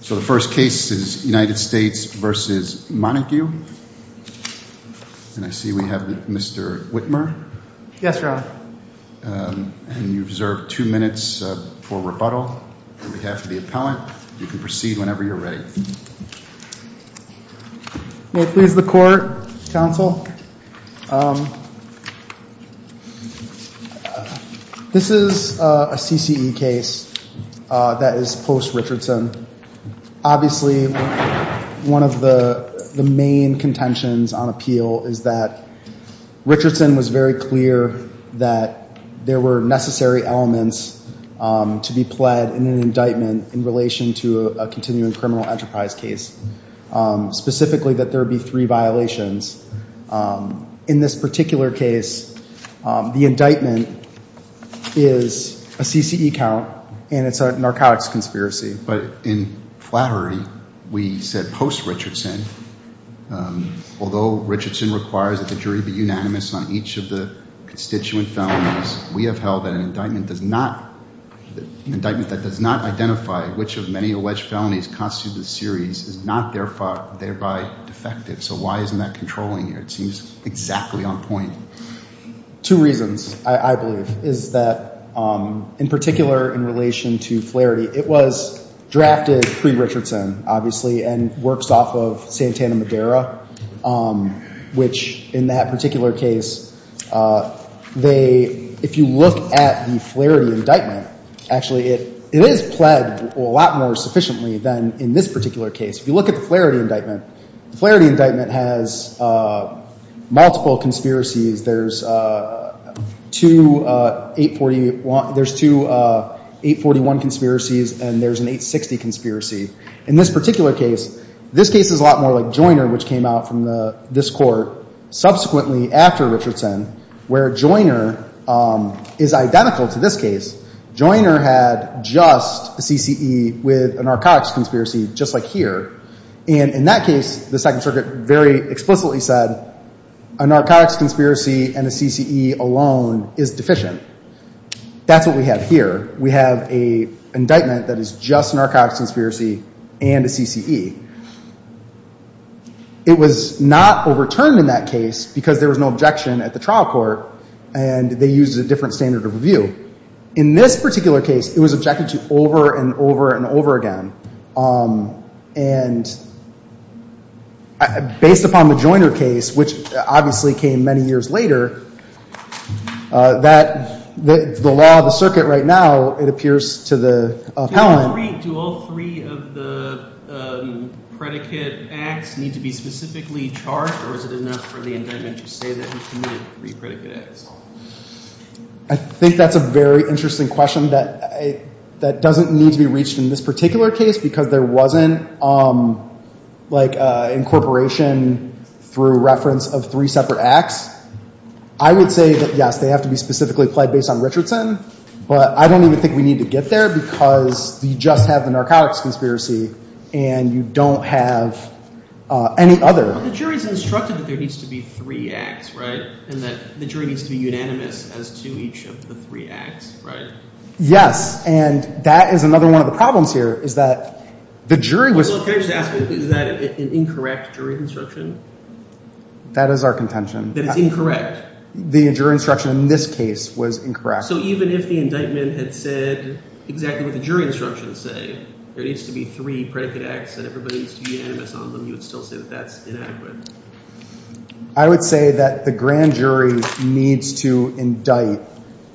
So the first case is United States v. Montague. And I see we have Mr. Whitmer. Yes, Your Honor. And you deserve two minutes for rebuttal on behalf of the appellant. You can proceed whenever you're ready. May it please the Court, Counsel. This is a CCE case that is post-Richardson Obviously one of the main contentions on appeal is that Richardson was very clear that there were necessary elements to be pled in an indictment in relation to a continuing criminal enterprise case, specifically that there be three violations. In this particular case, the indictment is a CCE count and it's a narcotics conspiracy. But in flattery, we said post-Richardson, although Richardson requires that the jury be unanimous on each of the constituent felonies, we have held that an indictment that does not identify which of many alleged felonies constitute the series is not thereby defective. So why isn't that controlling here? It seems exactly on point. Two reasons, I believe, is that in particular in relation to flarity, it was drafted pre-Richardson, obviously, and works off of Santana Madera, which in that particular case, they, if you look at the flarity indictment, actually it is pled a lot more sufficiently than in this particular case. If you look at the flarity indictment, the flarity indictment has multiple conspiracies. There's two 841 conspiracies and there's an 860 conspiracy. In this particular case, this case is a lot more like Joyner, which came out from this court subsequently after Richardson, where Joyner is identical to this case. Joyner had just a CCE with a narcotics conspiracy and a CCE alone is deficient. That's what we have here. We have an indictment that is just a narcotics conspiracy and a CCE. It was not overturned in that case because there was no objection at the trial court and they used a different standard of review. In this particular case, it was objected to over and over and over again. And based upon the Joyner case, which obviously came many years later, that the law of the circuit right now, it appears to the appellant. Do all three of the predicate acts need to be specifically charged or is it enough for the indictment to say that he committed three predicate acts? I think that's a very interesting question that doesn't need to be reached in this particular case because there wasn't like incorporation through reference of three separate acts. I would say that yes, they have to be specifically applied based on Richardson, but I don't even think we need to get there because you just have the narcotics conspiracy and you don't have any other. The jury's instructed that there needs to be three acts, right? And that the jury needs to be unanimous as to each of the three acts, right? Yes. And that is another one of the problems here is that the jury was... Can I just ask, is that an incorrect jury instruction? That is our contention. That it's incorrect? The jury instruction in this case was incorrect. So even if the indictment had said exactly what the jury instructions say, there needs to be three predicate acts and everybody needs to be unanimous on them, you would still say that that's inadequate? I would say that the grand jury needs to indict,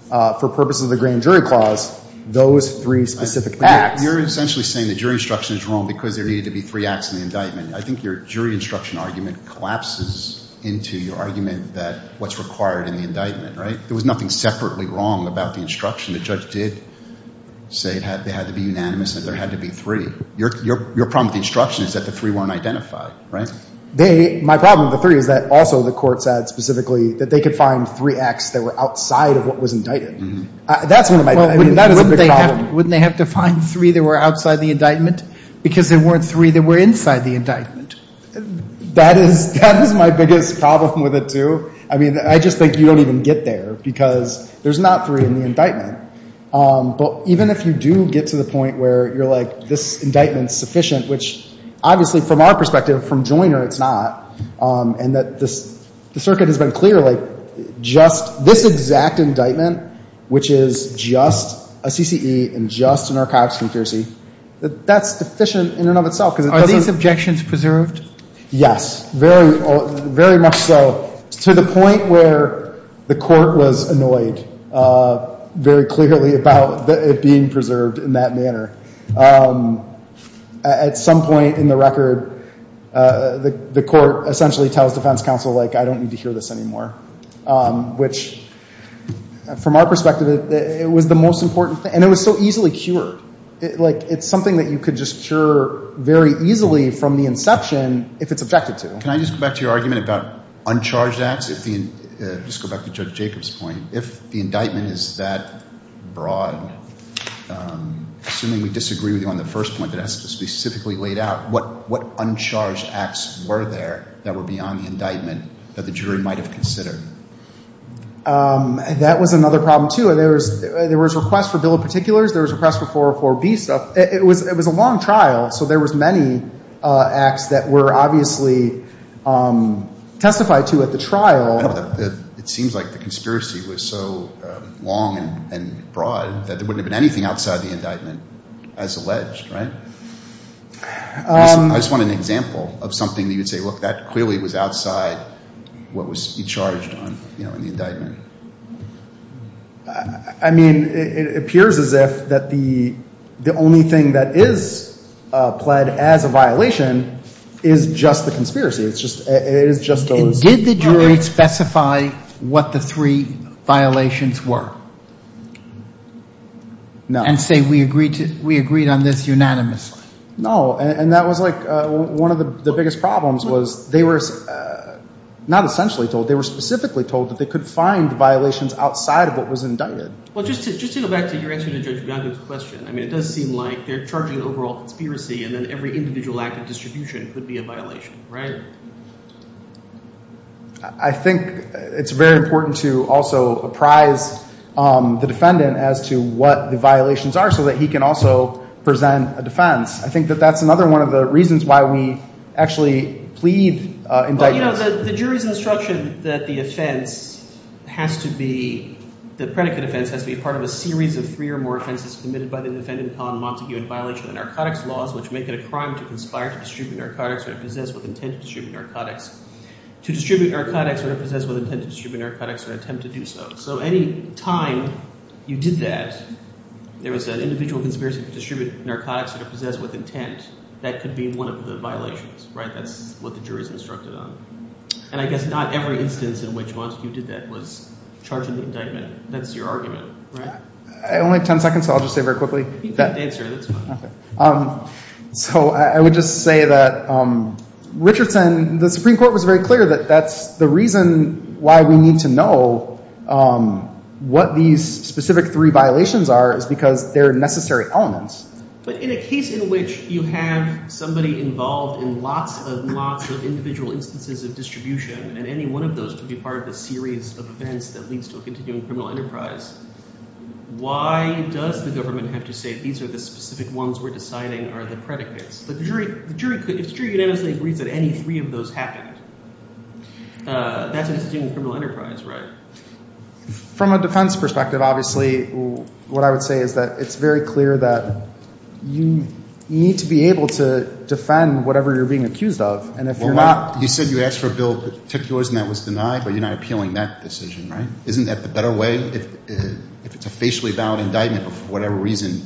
for purposes of the grand jury clause, those three specific acts. You're essentially saying the jury instruction is wrong because there needed to be three acts in the indictment. I think your jury instruction argument collapses into your argument that what's required in the indictment, right? There was nothing separately wrong about the instruction. The judge did say they had to be unanimous and there had to be three. Your problem with the instruction is that the three weren't identified, right? My problem with the three is that also the court said specifically that they could find three acts that were outside of what was indicted. That's one of my... Wouldn't they have to find three that were outside the indictment because there weren't three that were inside the indictment? That is my biggest problem with it, too. I mean, I just think you don't even get there because there's not three in the indictment. But even if you do get to the point where you're like, this indictment is clear, it's not, and that the circuit has been clear, like, just this exact indictment, which is just a CCE and just an archivist's confurency, that's deficient in and of itself because it doesn't... Are these objections preserved? Yes, very much so, to the point where the court was annoyed very clearly about it being preserved in that manner. At some point in the record, the court essentially tells defense counsel, like, I don't need to hear this anymore, which, from our perspective, it was the most important thing. And it was so easily cured. Like, it's something that you could just cure very easily from the inception if it's objected to. Can I just go back to your argument about uncharged acts? Just go back to Judge Jacobs' point. If the jury, assuming we disagree with you on the first point that has to be specifically laid out, what uncharged acts were there that were beyond the indictment that the jury might have considered? That was another problem, too. There was a request for bill of particulars. There was a request for 404B stuff. It was a long trial, so there was many acts that were obviously testified to at the trial. It seems like the conspiracy was so long and broad that there wouldn't have been anything outside the indictment as alleged, right? I just want an example of something that you would say, look, that clearly was outside what was charged in the indictment. I mean, it appears as if the only thing that is pled as a violation is just the conspiracy. It is just those three violations. Did the jury specify what the three violations were and say we agreed on this unanimously? No. And that was like one of the biggest problems was they were not essentially told. They were specifically told that they could find violations outside of what was indicted. Well, just to go back to your answer to Judge Bianco's question, I mean, it does seem like they're charging overall conspiracy and then every individual act of distribution could be a violation, right? I think it's very important to also apprise the defendant as to what the violations are so that he can also present a defense. I think that that's another one of the reasons why we actually plead indictments. Well, the jury's instruction that the offense has to be – the predicate offense has to be part of a series of three or more offenses committed by the defendant on Montague in violation of the narcotics laws which make it a crime to conspire to distribute narcotics or to possess with intent to distribute narcotics. To distribute narcotics or to possess with intent to distribute narcotics or attempt to do so. So any time you did that, there was an individual conspiracy to distribute narcotics or to possess with intent. That could be one of the violations, right? That's what the jury's instructed on. And I guess not every instance in which Montague did that was charging the indictment. That's your argument, right? I only have ten seconds, so I'll just say very quickly. So I would just say that Richardson – the Supreme Court was very clear that that's the reason why we need to know what these specific three violations are is because they're necessary elements. But in a case in which you have somebody involved in lots and lots of individual instances of distribution and any one of those could be part of a series of events that leads to a continuing criminal enterprise, why does the government have to say these are the specific ones we're deciding are the predicates? The jury unanimously agrees that any three of those happened. That's a continuing criminal enterprise, right? From a defense perspective, obviously, what I would say is that it's very clear that you need to be able to defend whatever you're being accused of, and if you're not – Well, you said you asked for a bill that took yours and that was denied, but you're not appealing that decision, right? Isn't that the better way? If it's a facially valid indictment, but for whatever reason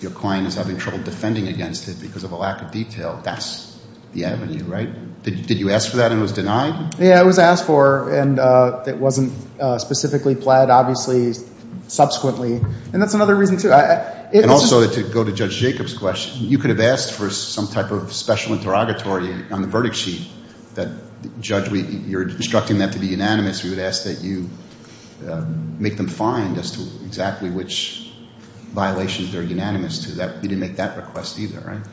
your client is having trouble defending against it because of a lack of detail, that's the avenue, right? Did you ask for that and it was denied? Yeah, it was asked for, and it wasn't specifically pled, obviously, subsequently, and that's another reason, too. And also, to go to Judge Jacobs' question, you could have asked for some type of special interrogatory on the verdict sheet that the judge – you're instructing that to be unanimous. We would ask that you make them find as to exactly which violations they're unanimous to. You didn't make that request either, right?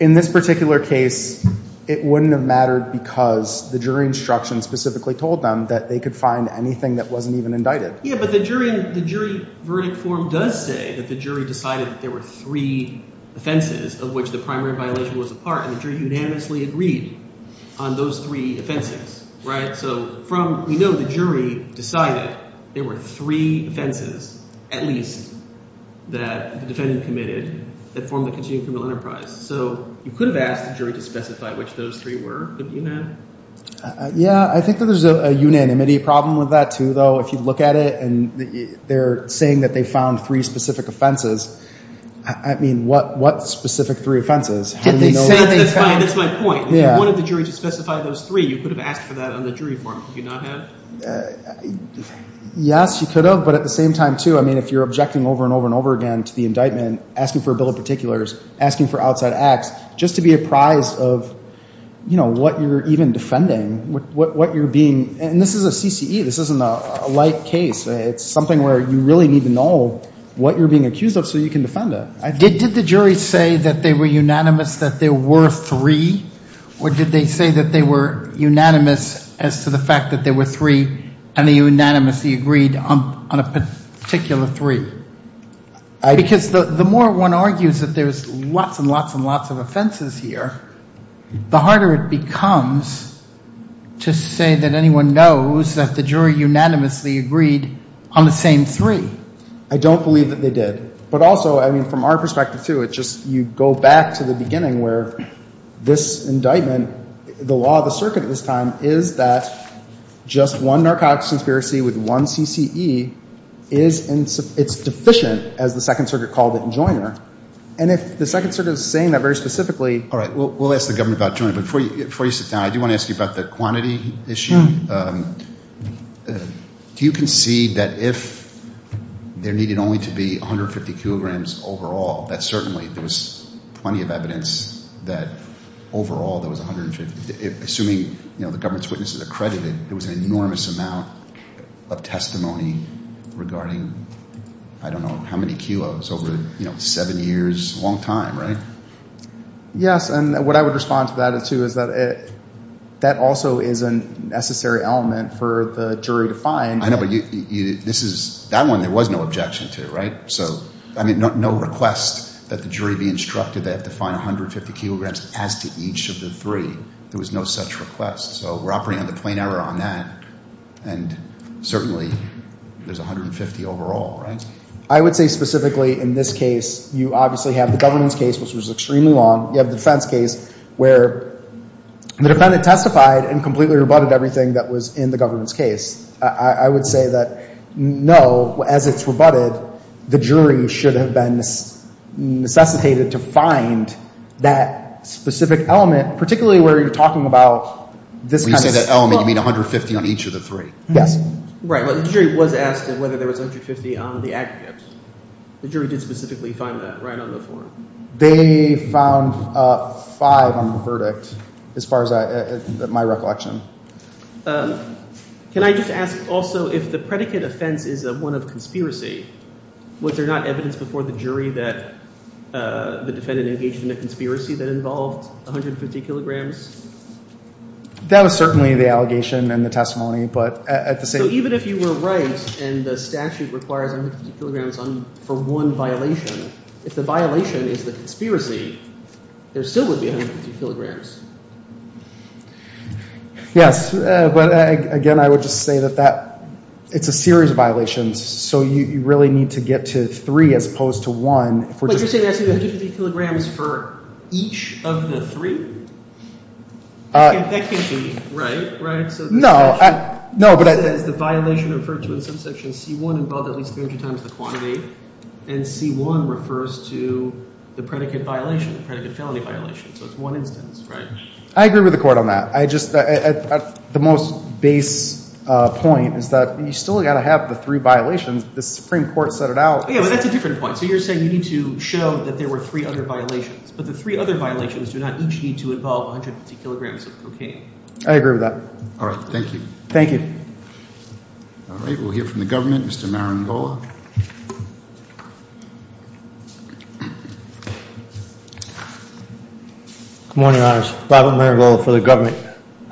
In this particular case, it wouldn't have mattered because the jury instruction specifically told them that they could find anything that wasn't even indicted. Yeah, but the jury verdict form does say that the jury decided that there were three offenses of which the primary violation was a part, and the jury unanimously agreed on those three offenses, right? So from – we know the jury decided there were three offenses, at least, that the defendant committed that form the continuing criminal enterprise. So you could have asked the jury to specify which those three were. Yeah, I think that there's a unanimity problem with that, too, though. If you look at it and they're saying that they found three specific offenses, I mean, what specific three offenses? That's my point. If you wanted the jury to specify those three, you could have asked for that on the jury form. You could not have? Yes, you could have, but at the same time, too, I mean, if you're objecting over and over and over again to the indictment, asking for a bill of particulars, asking for outside acts, just to be apprised of what you're even defending, what you're being – and this is a CCE. This isn't a light case. It's something where you really need to know what you're being accused of so you can defend it. Did the jury say that they were unanimous that there were three, or did they say that they were unanimous as to the fact that there were three and they unanimously agreed on a particular three? Because the more one argues that there's lots and lots and lots of offenses here, the harder it becomes to say that anyone knows that the jury unanimously agreed on the same three. I don't believe that they did. But also, I mean, from our perspective, too, it just – you go back to the beginning where this indictment, the law of the circuit at this time is that just one narcotics conspiracy with one CCE is – it's deficient, as the Second Circuit called it in Joyner. And if the Second Circuit is saying that very specifically – All right. We'll ask the government about Joyner. But before you sit down, I do want to ask you about the quantity issue. Do you concede that if there needed only to be 150 kilograms overall, that certainly there was plenty of evidence that overall there was 150? Assuming the government's witnesses accredited, there was an enormous amount of testimony regarding, I don't know, how many kilos over seven years, a long time, right? Yes. And what I would respond to that, too, is that that also is a necessary element for the jury to find. I know. But this is – that one there was no objection to, right? So, I mean, no request that the jury be instructed they have to find 150 kilograms as to each of the three. There was no such request. So we're operating on the plain error on that. And certainly there's 150 overall, right? I would say specifically in this case, you obviously have the government's case, which was extremely long. You have the defense case where the defendant testified and completely rebutted everything that was in the government's case. I would say that, no, as it's rebutted, the jury should have been necessitated to find that specific element, particularly where you're talking about this kind of – the jury did specifically find that right on the form. They found five on the verdict as far as my recollection. Can I just ask also if the predicate offense is one of conspiracy, was there not evidence before the jury that the defendant engaged in a conspiracy that involved 150 kilograms? That was certainly the allegation and the testimony. So even if you were right and the statute requires 150 kilograms for one violation, if the violation is the conspiracy, there still would be 150 kilograms. Yes, but again, I would just say that it's a series of violations. So you really need to get to three as opposed to one. But you're saying there's 150 kilograms for each of the three? That can't be right, right? No, but I – It says the violation referred to in subsection C1 involved at least 300 times the quantity, and C1 refers to the predicate violation, the predicate felony violation, so it's one instance, right? I agree with the court on that. The most base point is that you still got to have the three violations. The Supreme Court set it out. Yeah, but that's a different point. I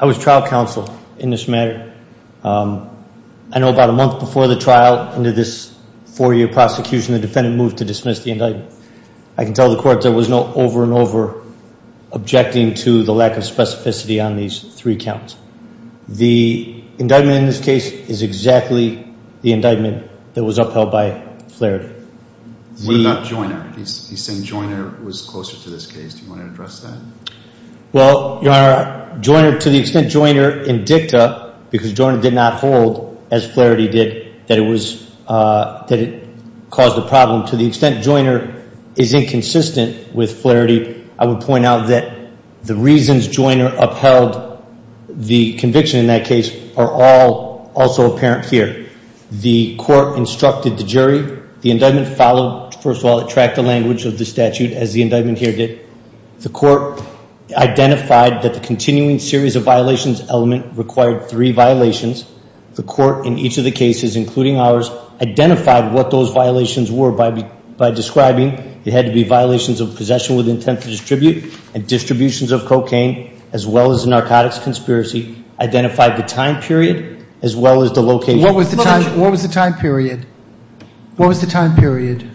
was trial counsel in this matter. I know about a month before the trial into this four-year prosecution, the defendant moved to dismiss the indictment. I can tell the court there was no over and over objecting to the lack of specificity on these three counts. The indictment in this case is exactly the indictment that was upheld by Flaherty. Well, not Joyner. He's saying Joyner was closer to this case. Do you want to address that? Well, Your Honor, Joyner, to the extent Joyner indicta, because Joyner did not hold, as Flaherty did, that it caused a problem, to the extent Joyner is inconsistent with Flaherty, I would point out that the reasons Joyner upheld the conviction in that case are all also apparent here. The court instructed the jury. The indictment followed, first of all, it tracked the language of the statute as the indictment here did. The court identified that the continuing series of violations element required three violations. The court in each of the cases, including ours, identified what those violations were by describing it had to be violations of possession with intent to distribute and distributions of cocaine, as well as narcotics conspiracy, identified the time period, as well as the location. What was the time period? What was the time period?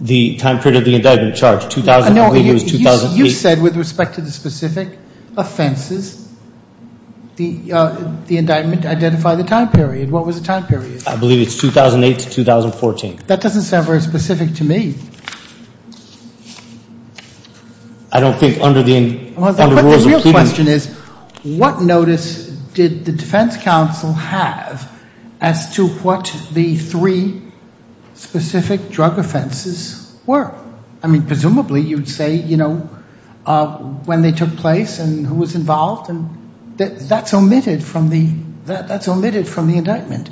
The time period of the indictment charged. I believe it was 2008. You said with respect to the specific offenses, the indictment identified the time period. What was the time period? I believe it's 2008 to 2014. That doesn't sound very specific to me. I don't think under the rules of pleading. But the real question is, what notice did the defense counsel have as to what the three specific drug offenses were? I mean, presumably you'd say, you know, when they took place and who was involved. That's omitted from the indictment.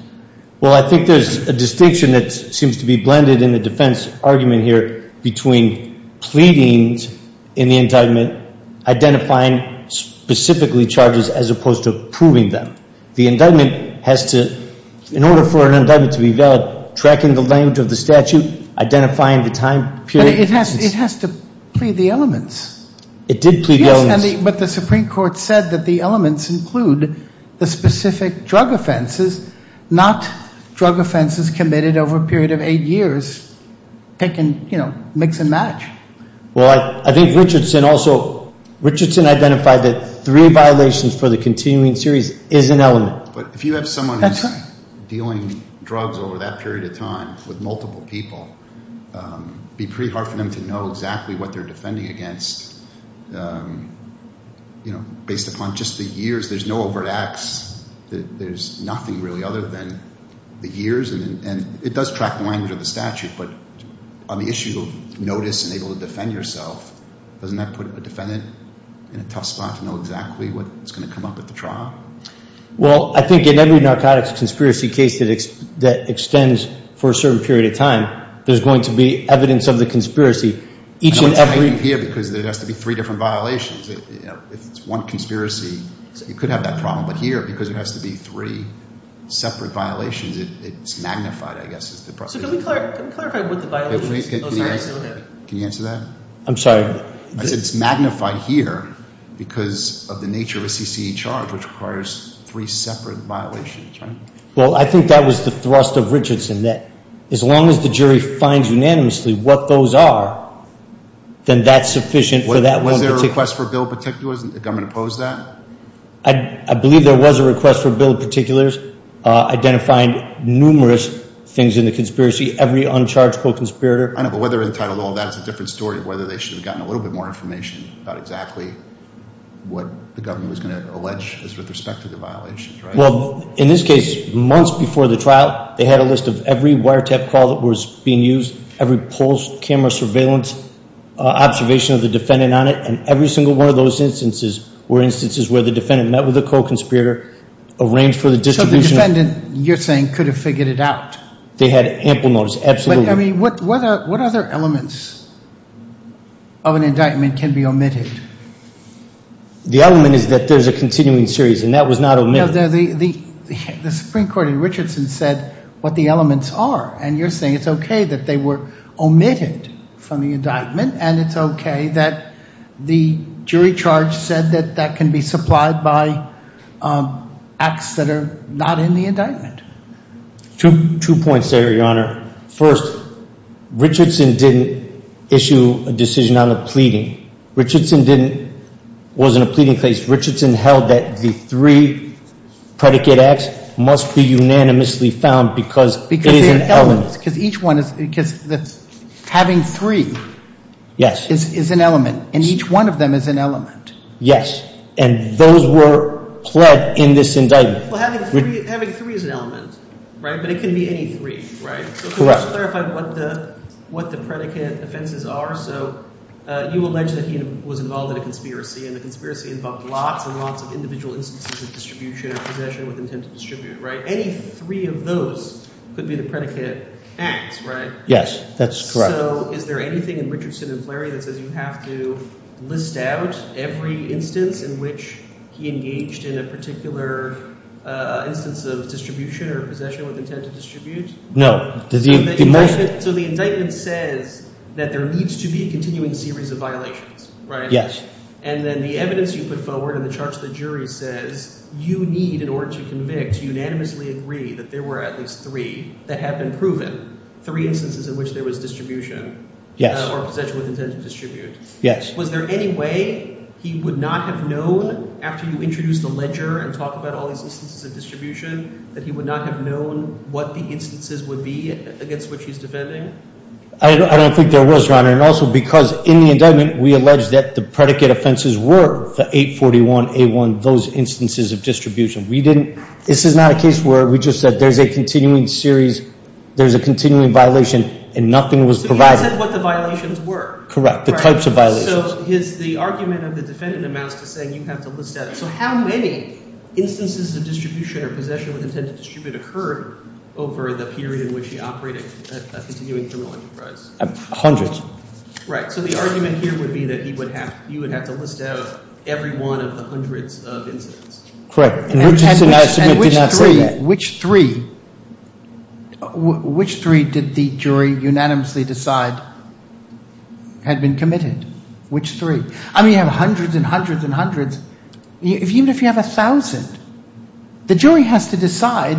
Well, I think there's a distinction that seems to be blended in the defense argument here between pleadings in the indictment, identifying specifically charges as opposed to proving them. The indictment has to, in order for an indictment to be valid, tracking the length of the statute, identifying the time period. But it has to plead the elements. It did plead the elements. But the Supreme Court said that the elements include the specific drug offenses, not drug offenses committed over a period of eight years. They can, you know, mix and match. Well, I think Richardson also, Richardson identified that three violations for the continuing series is an element. But if you have someone who's dealing drugs over that period of time with multiple people, it would be pretty hard for them to know exactly what they're defending against. You know, based upon just the years, there's no overt acts. There's nothing really other than the years. And it does track the language of the statute. But on the issue of notice and able to defend yourself, doesn't that put a defendant in a tough spot to know exactly what's going to come up at the trial? Well, I think in every narcotics conspiracy case that extends for a certain period of time, there's going to be evidence of the conspiracy. And I'm citing here because there has to be three different violations. If it's one conspiracy, you could have that problem. But here, because there has to be three separate violations, it's magnified, I guess. So can we clarify what the violation is? Can you answer that? I'm sorry. It's magnified here because of the nature of a CCE charge, which requires three separate violations, right? Well, I think that was the thrust of Richardson, that as long as the jury finds unanimously what those are, then that's sufficient for that one particular. Was there a request for a bill of particulars? Didn't the government oppose that? I believe there was a request for a bill of particulars identifying numerous things in the conspiracy, every uncharged co-conspirator. I know, but whether they're entitled to all that is a different story, whether they should have gotten a little bit more information about exactly what the government was going to allege with respect to the violations, right? Well, in this case, months before the trial, they had a list of every wiretap call that was being used, every post-camera surveillance observation of the defendant on it, and every single one of those instances were instances where the defendant met with a co-conspirator, arranged for the distribution. So the defendant, you're saying, could have figured it out? They had ample notice, absolutely. But, I mean, what other elements of an indictment can be omitted? The element is that there's a continuing series, and that was not omitted. The Supreme Court in Richardson said what the elements are, and you're saying it's okay that they were omitted from the indictment, and it's okay that the jury charge said that that can be supplied by acts that are not in the indictment. Two points there, Your Honor. First, Richardson didn't issue a decision on the pleading. Richardson didn't, was in a pleading case. Richardson held that the three predicate acts must be unanimously found because it is an element. Because each one is, because having three is an element, and each one of them is an element. Yes, and those were pled in this indictment. Well, having three is an element, right? But it can be any three, right? Correct. To clarify what the predicate offenses are, so you allege that he was involved in a conspiracy, and the conspiracy involved lots and lots of individual instances of distribution or possession with intent to distribute, right? Any three of those could be the predicate acts, right? Yes, that's correct. So is there anything in Richardson and Fleury that says you have to list out every instance in which he engaged in a particular instance of distribution or possession with intent to distribute? No. So the indictment says that there needs to be a continuing series of violations, right? Yes. And then the evidence you put forward in the charge to the jury says you need, in order to convict, agree that there were at least three that have been proven, three instances in which there was distribution or possession with intent to distribute. Yes. Was there any way he would not have known, after you introduced the ledger and talked about all these instances of distribution, that he would not have known what the instances would be against which he's defending? I don't think there was, Your Honor, and also because in the indictment we allege that the predicate offenses were the 841A1, those instances of distribution. This is not a case where we just said there's a continuing series, there's a continuing violation, and nothing was provided. So he said what the violations were. Correct, the types of violations. So the argument of the defendant amounts to saying you have to list out. So how many instances of distribution or possession with intent to distribute occurred over the period in which he operated a continuing criminal enterprise? Hundreds. Right. So the argument here would be that you would have to list out every one of the hundreds of incidents. Correct. And Richardson, I submit, did not say that. And which three, which three did the jury unanimously decide had been committed? Which three? I mean, you have hundreds and hundreds and hundreds. Even if you have a thousand, the jury has to decide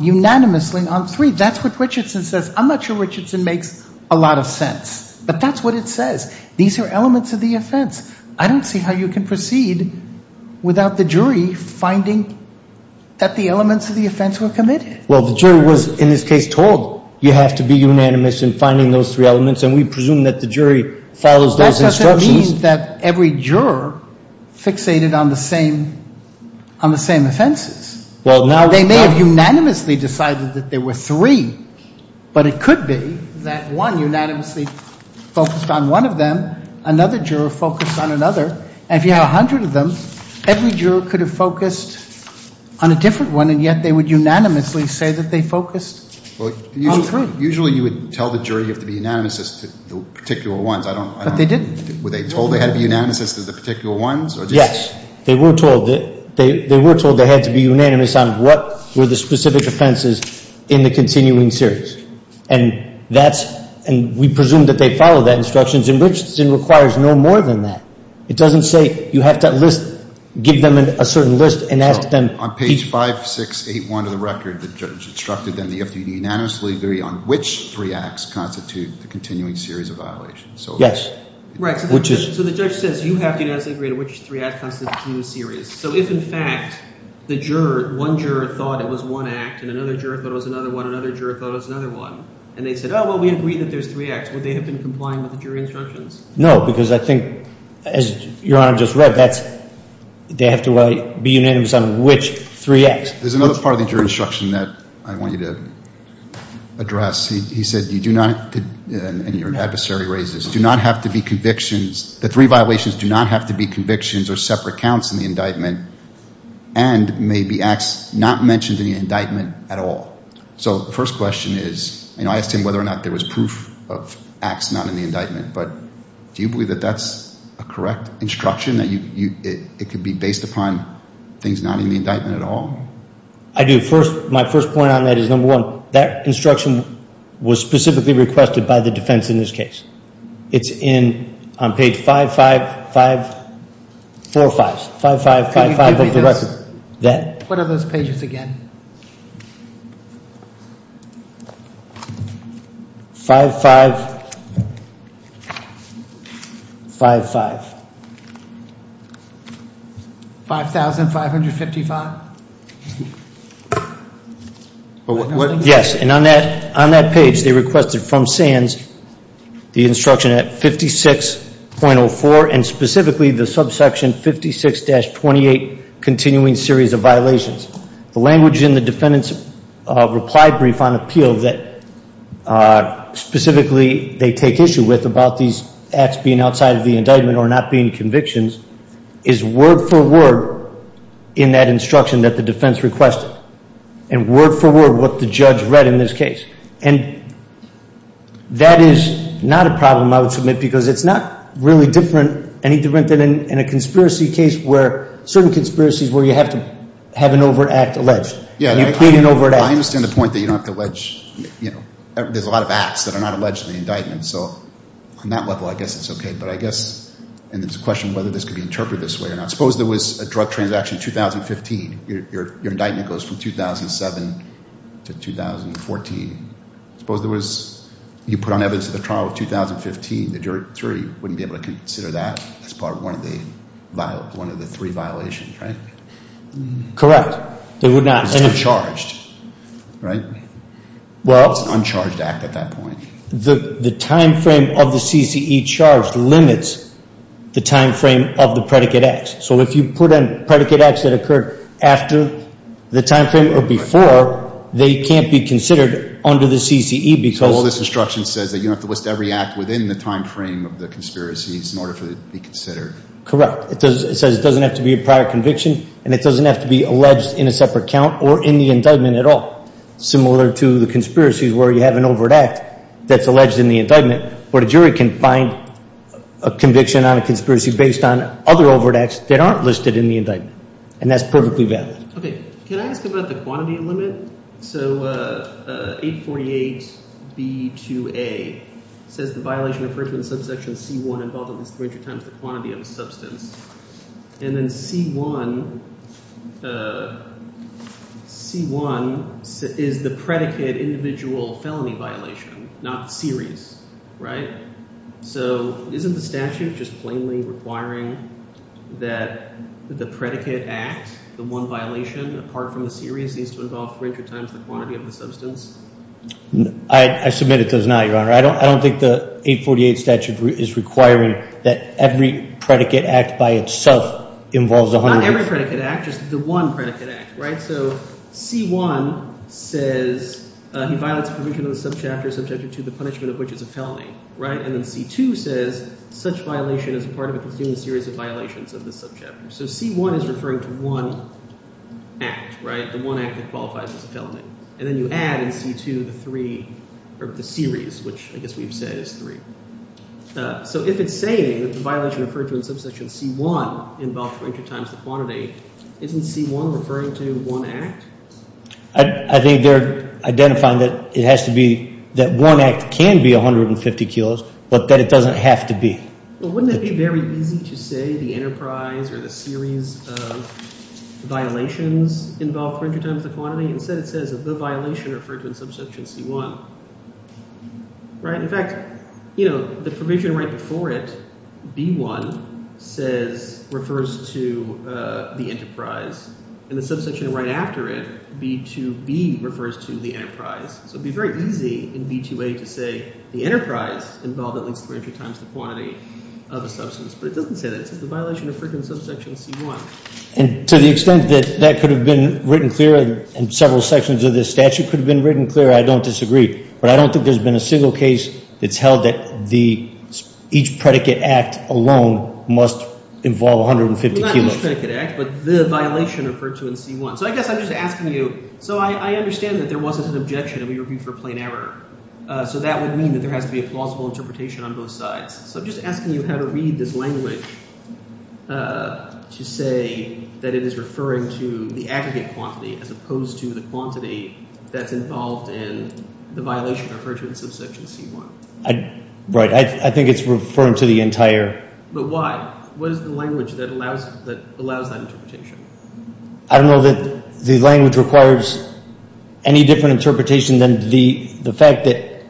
unanimously on three. That's what Richardson says. I'm not sure Richardson makes a lot of sense, but that's what it says. These are elements of the offense. I don't see how you can proceed without the jury finding that the elements of the offense were committed. Well, the jury was, in this case, told you have to be unanimous in finding those three elements, and we presume that the jury follows those instructions. That doesn't mean that every juror fixated on the same offenses. Well, now they may have unanimously decided that there were three, but it could be that one unanimously focused on one of them, another juror focused on another, and if you have a hundred of them, every juror could have focused on a different one, and yet they would unanimously say that they focused on three. Usually you would tell the jury you have to be unanimous as to the particular ones. But they didn't. Were they told they had to be unanimous as to the particular ones? Yes. They were told they had to be unanimous on what were the specific offenses in the continuing series. And that's – and we presume that they follow that instructions, and Richardson requires no more than that. It doesn't say you have to list – give them a certain list and ask them – On page 5681 of the record, the judge instructed them to be unanimously agree on which three acts constitute the continuing series of violations. Yes. Right. So the judge says you have to unanimously agree on which three acts constitute the continuing series. So if, in fact, the juror – one juror thought it was one act and another juror thought it was another one, another juror thought it was another one, and they said, oh, well, we agree that there's three acts, would they have been complying with the jury instructions? No, because I think, as Your Honor just read, that's – they have to be unanimous on which three acts. There's another part of the jury instruction that I want you to address. He said you do not – and your adversary raises – do not have to be convictions – the three violations do not have to be convictions or separate counts in the indictment and may be acts not mentioned in the indictment at all. So the first question is – you know, I asked him whether or not there was proof of acts not in the indictment, but do you believe that that's a correct instruction, that it could be based upon things not in the indictment at all? I do. First – my first point on that is, number one, that instruction was specifically requested by the defense in this case. It's in – on page 555 – four fives – 5555 of the record. Could you give me those? That. What are those pages again? 5555. 5,555? Yes. And on that – on that page, they requested from Sands the instruction at 56.04 and specifically the subsection 56-28, continuing series of violations. The language in the defendant's reply brief on appeal that specifically they take issue with about these acts being outside of the indictment or not being convictions is word for word in that instruction that the defense requested and word for word what the judge read in this case. And that is not a problem, I would submit, because it's not really different – any different than in a conspiracy case where – certain conspiracies where you have to have an overt act alleged. Yeah. You plead an overt act. I understand the point that you don't have to allege – you know, there's a lot of acts that are not alleged in the indictment. So on that level, I guess it's okay. But I guess – and there's a question of whether this could be interpreted this way or not. Suppose there was a drug transaction in 2015. Your indictment goes from 2007 to 2014. Suppose there was – you put on evidence at the trial of 2015. The jury wouldn't be able to consider that as part of one of the three violations, right? Correct. They would not. It's uncharged, right? Well – It's an uncharged act at that point. The timeframe of the CCE charge limits the timeframe of the predicate acts. So if you put in predicate acts that occurred after the timeframe or before, they can't be considered under the CCE because – Well, this instruction says that you don't have to list every act within the timeframe of the conspiracies in order for it to be considered. Correct. It says it doesn't have to be a prior conviction, and it doesn't have to be alleged in a separate count or in the indictment at all. Similar to the conspiracies where you have an overt act that's alleged in the indictment, where the jury can find a conviction on a conspiracy based on other overt acts that aren't listed in the indictment. And that's perfectly valid. Okay. Can I ask about the quantity limit? So 848B2A says the violation of First Amendment subsection C1 involved at least 300 times the quantity of a substance. And then C1 – C1 is the predicate individual felony violation, not the series, right? So isn't the statute just plainly requiring that the predicate act, the one violation apart from the series, needs to involve 300 times the quantity of the substance? I submit it does not, Your Honor. I don't think the 848 statute is requiring that every predicate act by itself involves 100. Not every predicate act, just the one predicate act, right? So C1 says he violates a provision of the subchapter, subchapter 2, the punishment of which is a felony, right? And then C2 says such violation is part of a continued series of violations of the subchapter. So C1 is referring to one act, right, the one act that qualifies as a felony. And then you add in C2 the three – or the series, which I guess we've said is three. So if it's saying that the violation referred to in subsection C1 involved 300 times the quantity, isn't C1 referring to one act? I think they're identifying that it has to be – that one act can be 150 kilos, but that it doesn't have to be. Well, wouldn't it be very easy to say the enterprise or the series of violations involved 300 times the quantity? Instead it says the violation referred to in subsection C1, right? In fact, the provision right before it, B1, says – refers to the enterprise. In the subsection right after it, B2B refers to the enterprise. So it would be very easy in B2A to say the enterprise involved at least 300 times the quantity of a substance. But it doesn't say that. It says the violation referred to in subsection C1. And to the extent that that could have been written clear and several sections of this statute could have been written clear, I don't disagree. But I don't think there's been a single case that's held that the – each predicate act alone must involve 150 kilos. Not each predicate act, but the violation referred to in C1. So I guess I'm just asking you – so I understand that there wasn't an objection, and we reviewed for plain error. So that would mean that there has to be a plausible interpretation on both sides. So I'm just asking you how to read this language to say that it is referring to the aggregate quantity as opposed to the quantity that's involved in the violation referred to in subsection C1. Right. I think it's referring to the entire – But why? What is the language that allows that interpretation? I don't know that the language requires any different interpretation than the fact that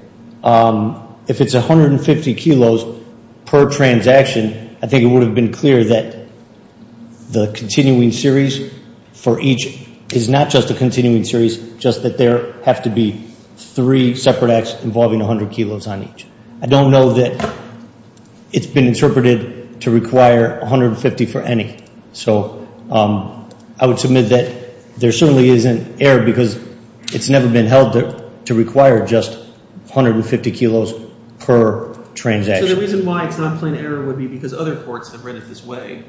if it's 150 kilos per transaction, I think it would have been clear that the continuing series for each is not just a continuing series, just that there have to be three separate acts involving 100 kilos on each. I don't know that it's been interpreted to require 150 for any. So I would submit that there certainly isn't error because it's never been held to require just 150 kilos per transaction. So the reason why it's not plain error would be because other courts have read it this way,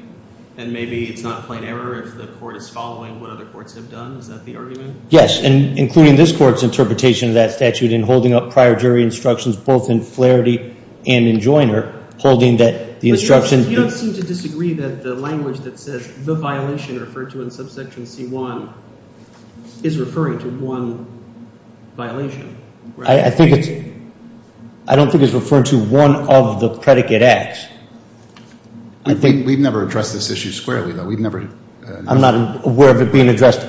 and maybe it's not plain error if the court is following what other courts have done. Is that the argument? Yes, and including this court's interpretation of that statute in holding up prior jury instructions, both in Flaherty and in Joyner, holding that the instruction – the violation referred to in subsection C1 is referring to one violation. I don't think it's referring to one of the predicate acts. We've never addressed this issue squarely, though. We've never – I'm not aware of it being addressed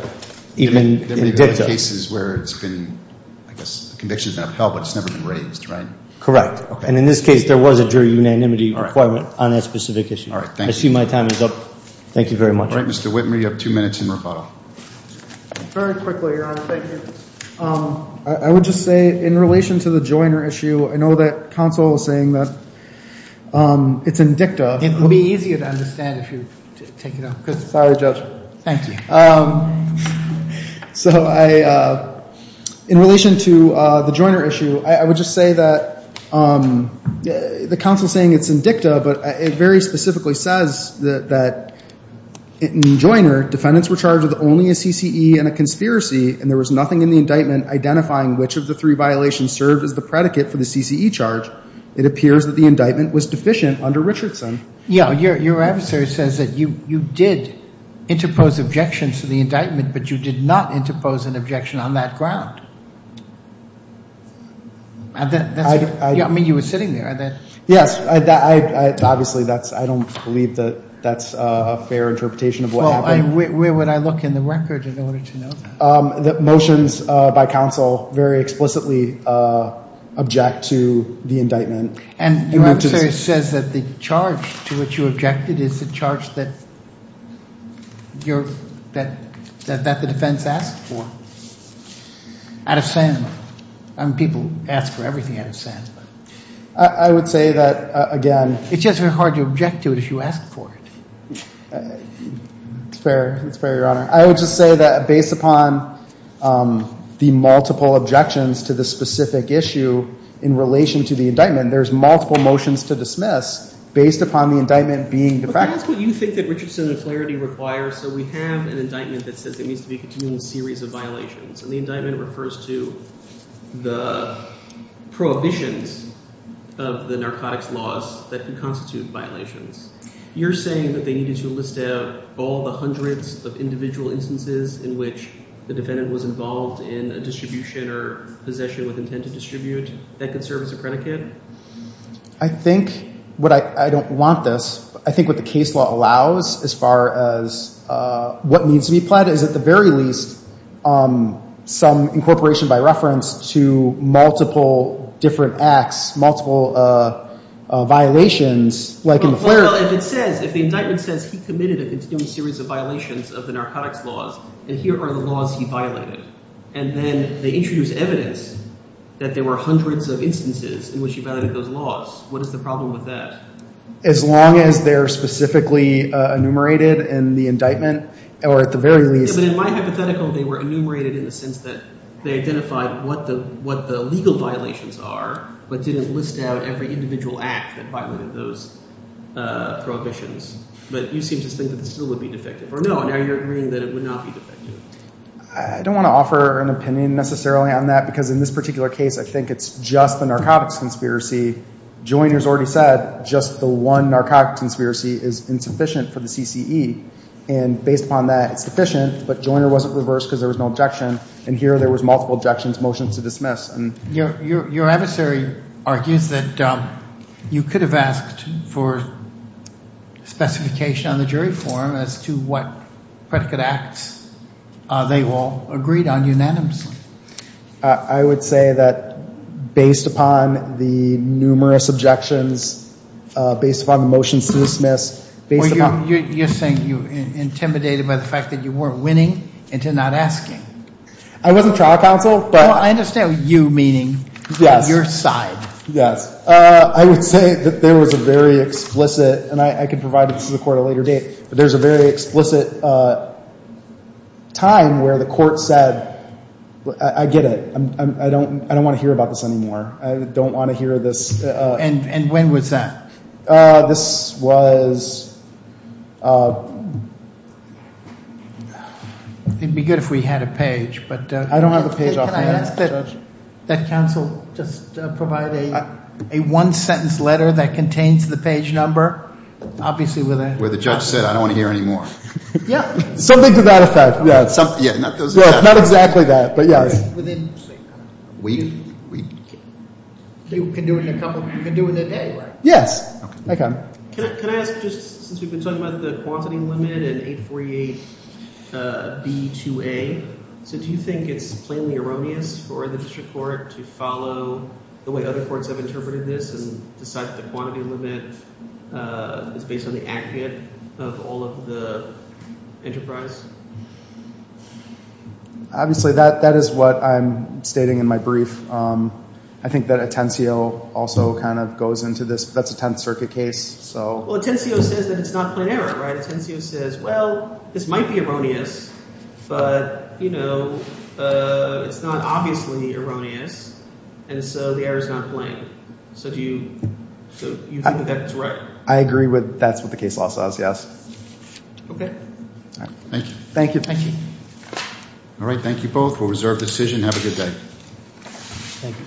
even in dicta. There have been cases where it's been – I guess convictions have been held, but it's never been raised, right? Correct. And in this case, there was a jury unanimity requirement on that specific issue. All right, thank you. I see my time is up. Thank you very much. All right, Mr. Whitmer, you have two minutes in rebuttal. Very quickly, Your Honor. Thank you. I would just say in relation to the Joyner issue, I know that counsel is saying that it's in dicta. It would be easier to understand if you take it up. Sorry, Judge. Thank you. So I – in relation to the Joyner issue, I would just say that the counsel is saying it's in dicta, but it very specifically says that in Joyner, defendants were charged with only a CCE and a conspiracy, and there was nothing in the indictment identifying which of the three violations served as the predicate for the CCE charge. It appears that the indictment was deficient under Richardson. Yeah, your answer says that you did interpose objections to the indictment, but you did not interpose an objection on that ground. I mean, you were sitting there. Yes. Obviously, that's – I don't believe that that's a fair interpretation of what happened. Well, where would I look in the record in order to know that? Motions by counsel very explicitly object to the indictment. And your answer says that the charge to which you objected is the charge that you're – that the defense asked for. Out of saying – I mean, people ask for everything out of saying. I would say that, again – It's just very hard to object to it if you ask for it. It's fair. It's fair, Your Honor. I would just say that based upon the multiple objections to the specific issue in relation to the indictment, there's multiple motions to dismiss based upon the indictment being – But that's what you think that Richardson and Flaherty require. So we have an indictment that says there needs to be a continual series of violations, and the indictment refers to the prohibitions of the narcotics laws that can constitute violations. You're saying that they needed to list out all the hundreds of individual instances in which the defendant was involved in a distribution or possession with intent to distribute that could serve as a predicate? I think what I – I don't want this. I think what the case law allows as far as what needs to be applied is, at the very least, some incorporation by reference to multiple different acts, multiple violations, like in Flaherty. Well, if it says – if the indictment says he committed a continual series of violations of the narcotics laws, then here are the laws he violated. And then they introduce evidence that there were hundreds of instances in which he violated those laws. What is the problem with that? As long as they're specifically enumerated in the indictment, or at the very least – But in my hypothetical, they were enumerated in the sense that they identified what the legal violations are but didn't list out every individual act that violated those prohibitions. But you seem to think that this still would be defective. Or no, now you're agreeing that it would not be defective. I don't want to offer an opinion necessarily on that because in this particular case, I think it's just the narcotics conspiracy. Joyner's already said just the one narcotics conspiracy is insufficient for the CCE. And based upon that, it's deficient. But Joyner wasn't reversed because there was no objection. And here there was multiple objections, motions to dismiss. Your adversary argues that you could have asked for specification on the jury form as to what predicate acts they all agreed on unanimously. I would say that based upon the numerous objections, based upon the motions to dismiss, based upon – You're saying you intimidated by the fact that you weren't winning into not asking. I wasn't trial counsel, but – Well, I understand what you're meaning. Yes. You're on your side. Yes. I would say that there was a very explicit – and I can provide it to the court at a later date – but there's a very explicit time where the court said, I get it. I don't want to hear about this anymore. I don't want to hear this. And when was that? This was – It would be good if we had a page, but – I don't have a page off the end, Judge. Can I ask that counsel just provide a one-sentence letter that contains the page number? Obviously with a – Where the judge said, I don't want to hear anymore. Yeah. Something to that effect. Yeah. Not those – Not exactly that, but yes. Within – We – You can do it in a couple – you can do it in a day, right? Yes. Okay. Can I ask, just since we've been talking about the quantity limit in 848B2A, so do you think it's plainly erroneous for the district court to follow the way other courts have interpreted this and decide that the quantity limit is based on the aggregate of all of the enterprise? Obviously that is what I'm stating in my brief. I think that Atencio also kind of goes into this. That's a Tenth Circuit case, so – Well, Atencio says that it's not plain error, right? Atencio says, well, this might be erroneous, but it's not obviously erroneous, and so the error is not plain. So do you think that that's right? I agree with – that's what the case law says, yes. Okay. Thank you. Thank you. Thank you. All right. Thank you both for a reserved decision. Have a good day. Thank you.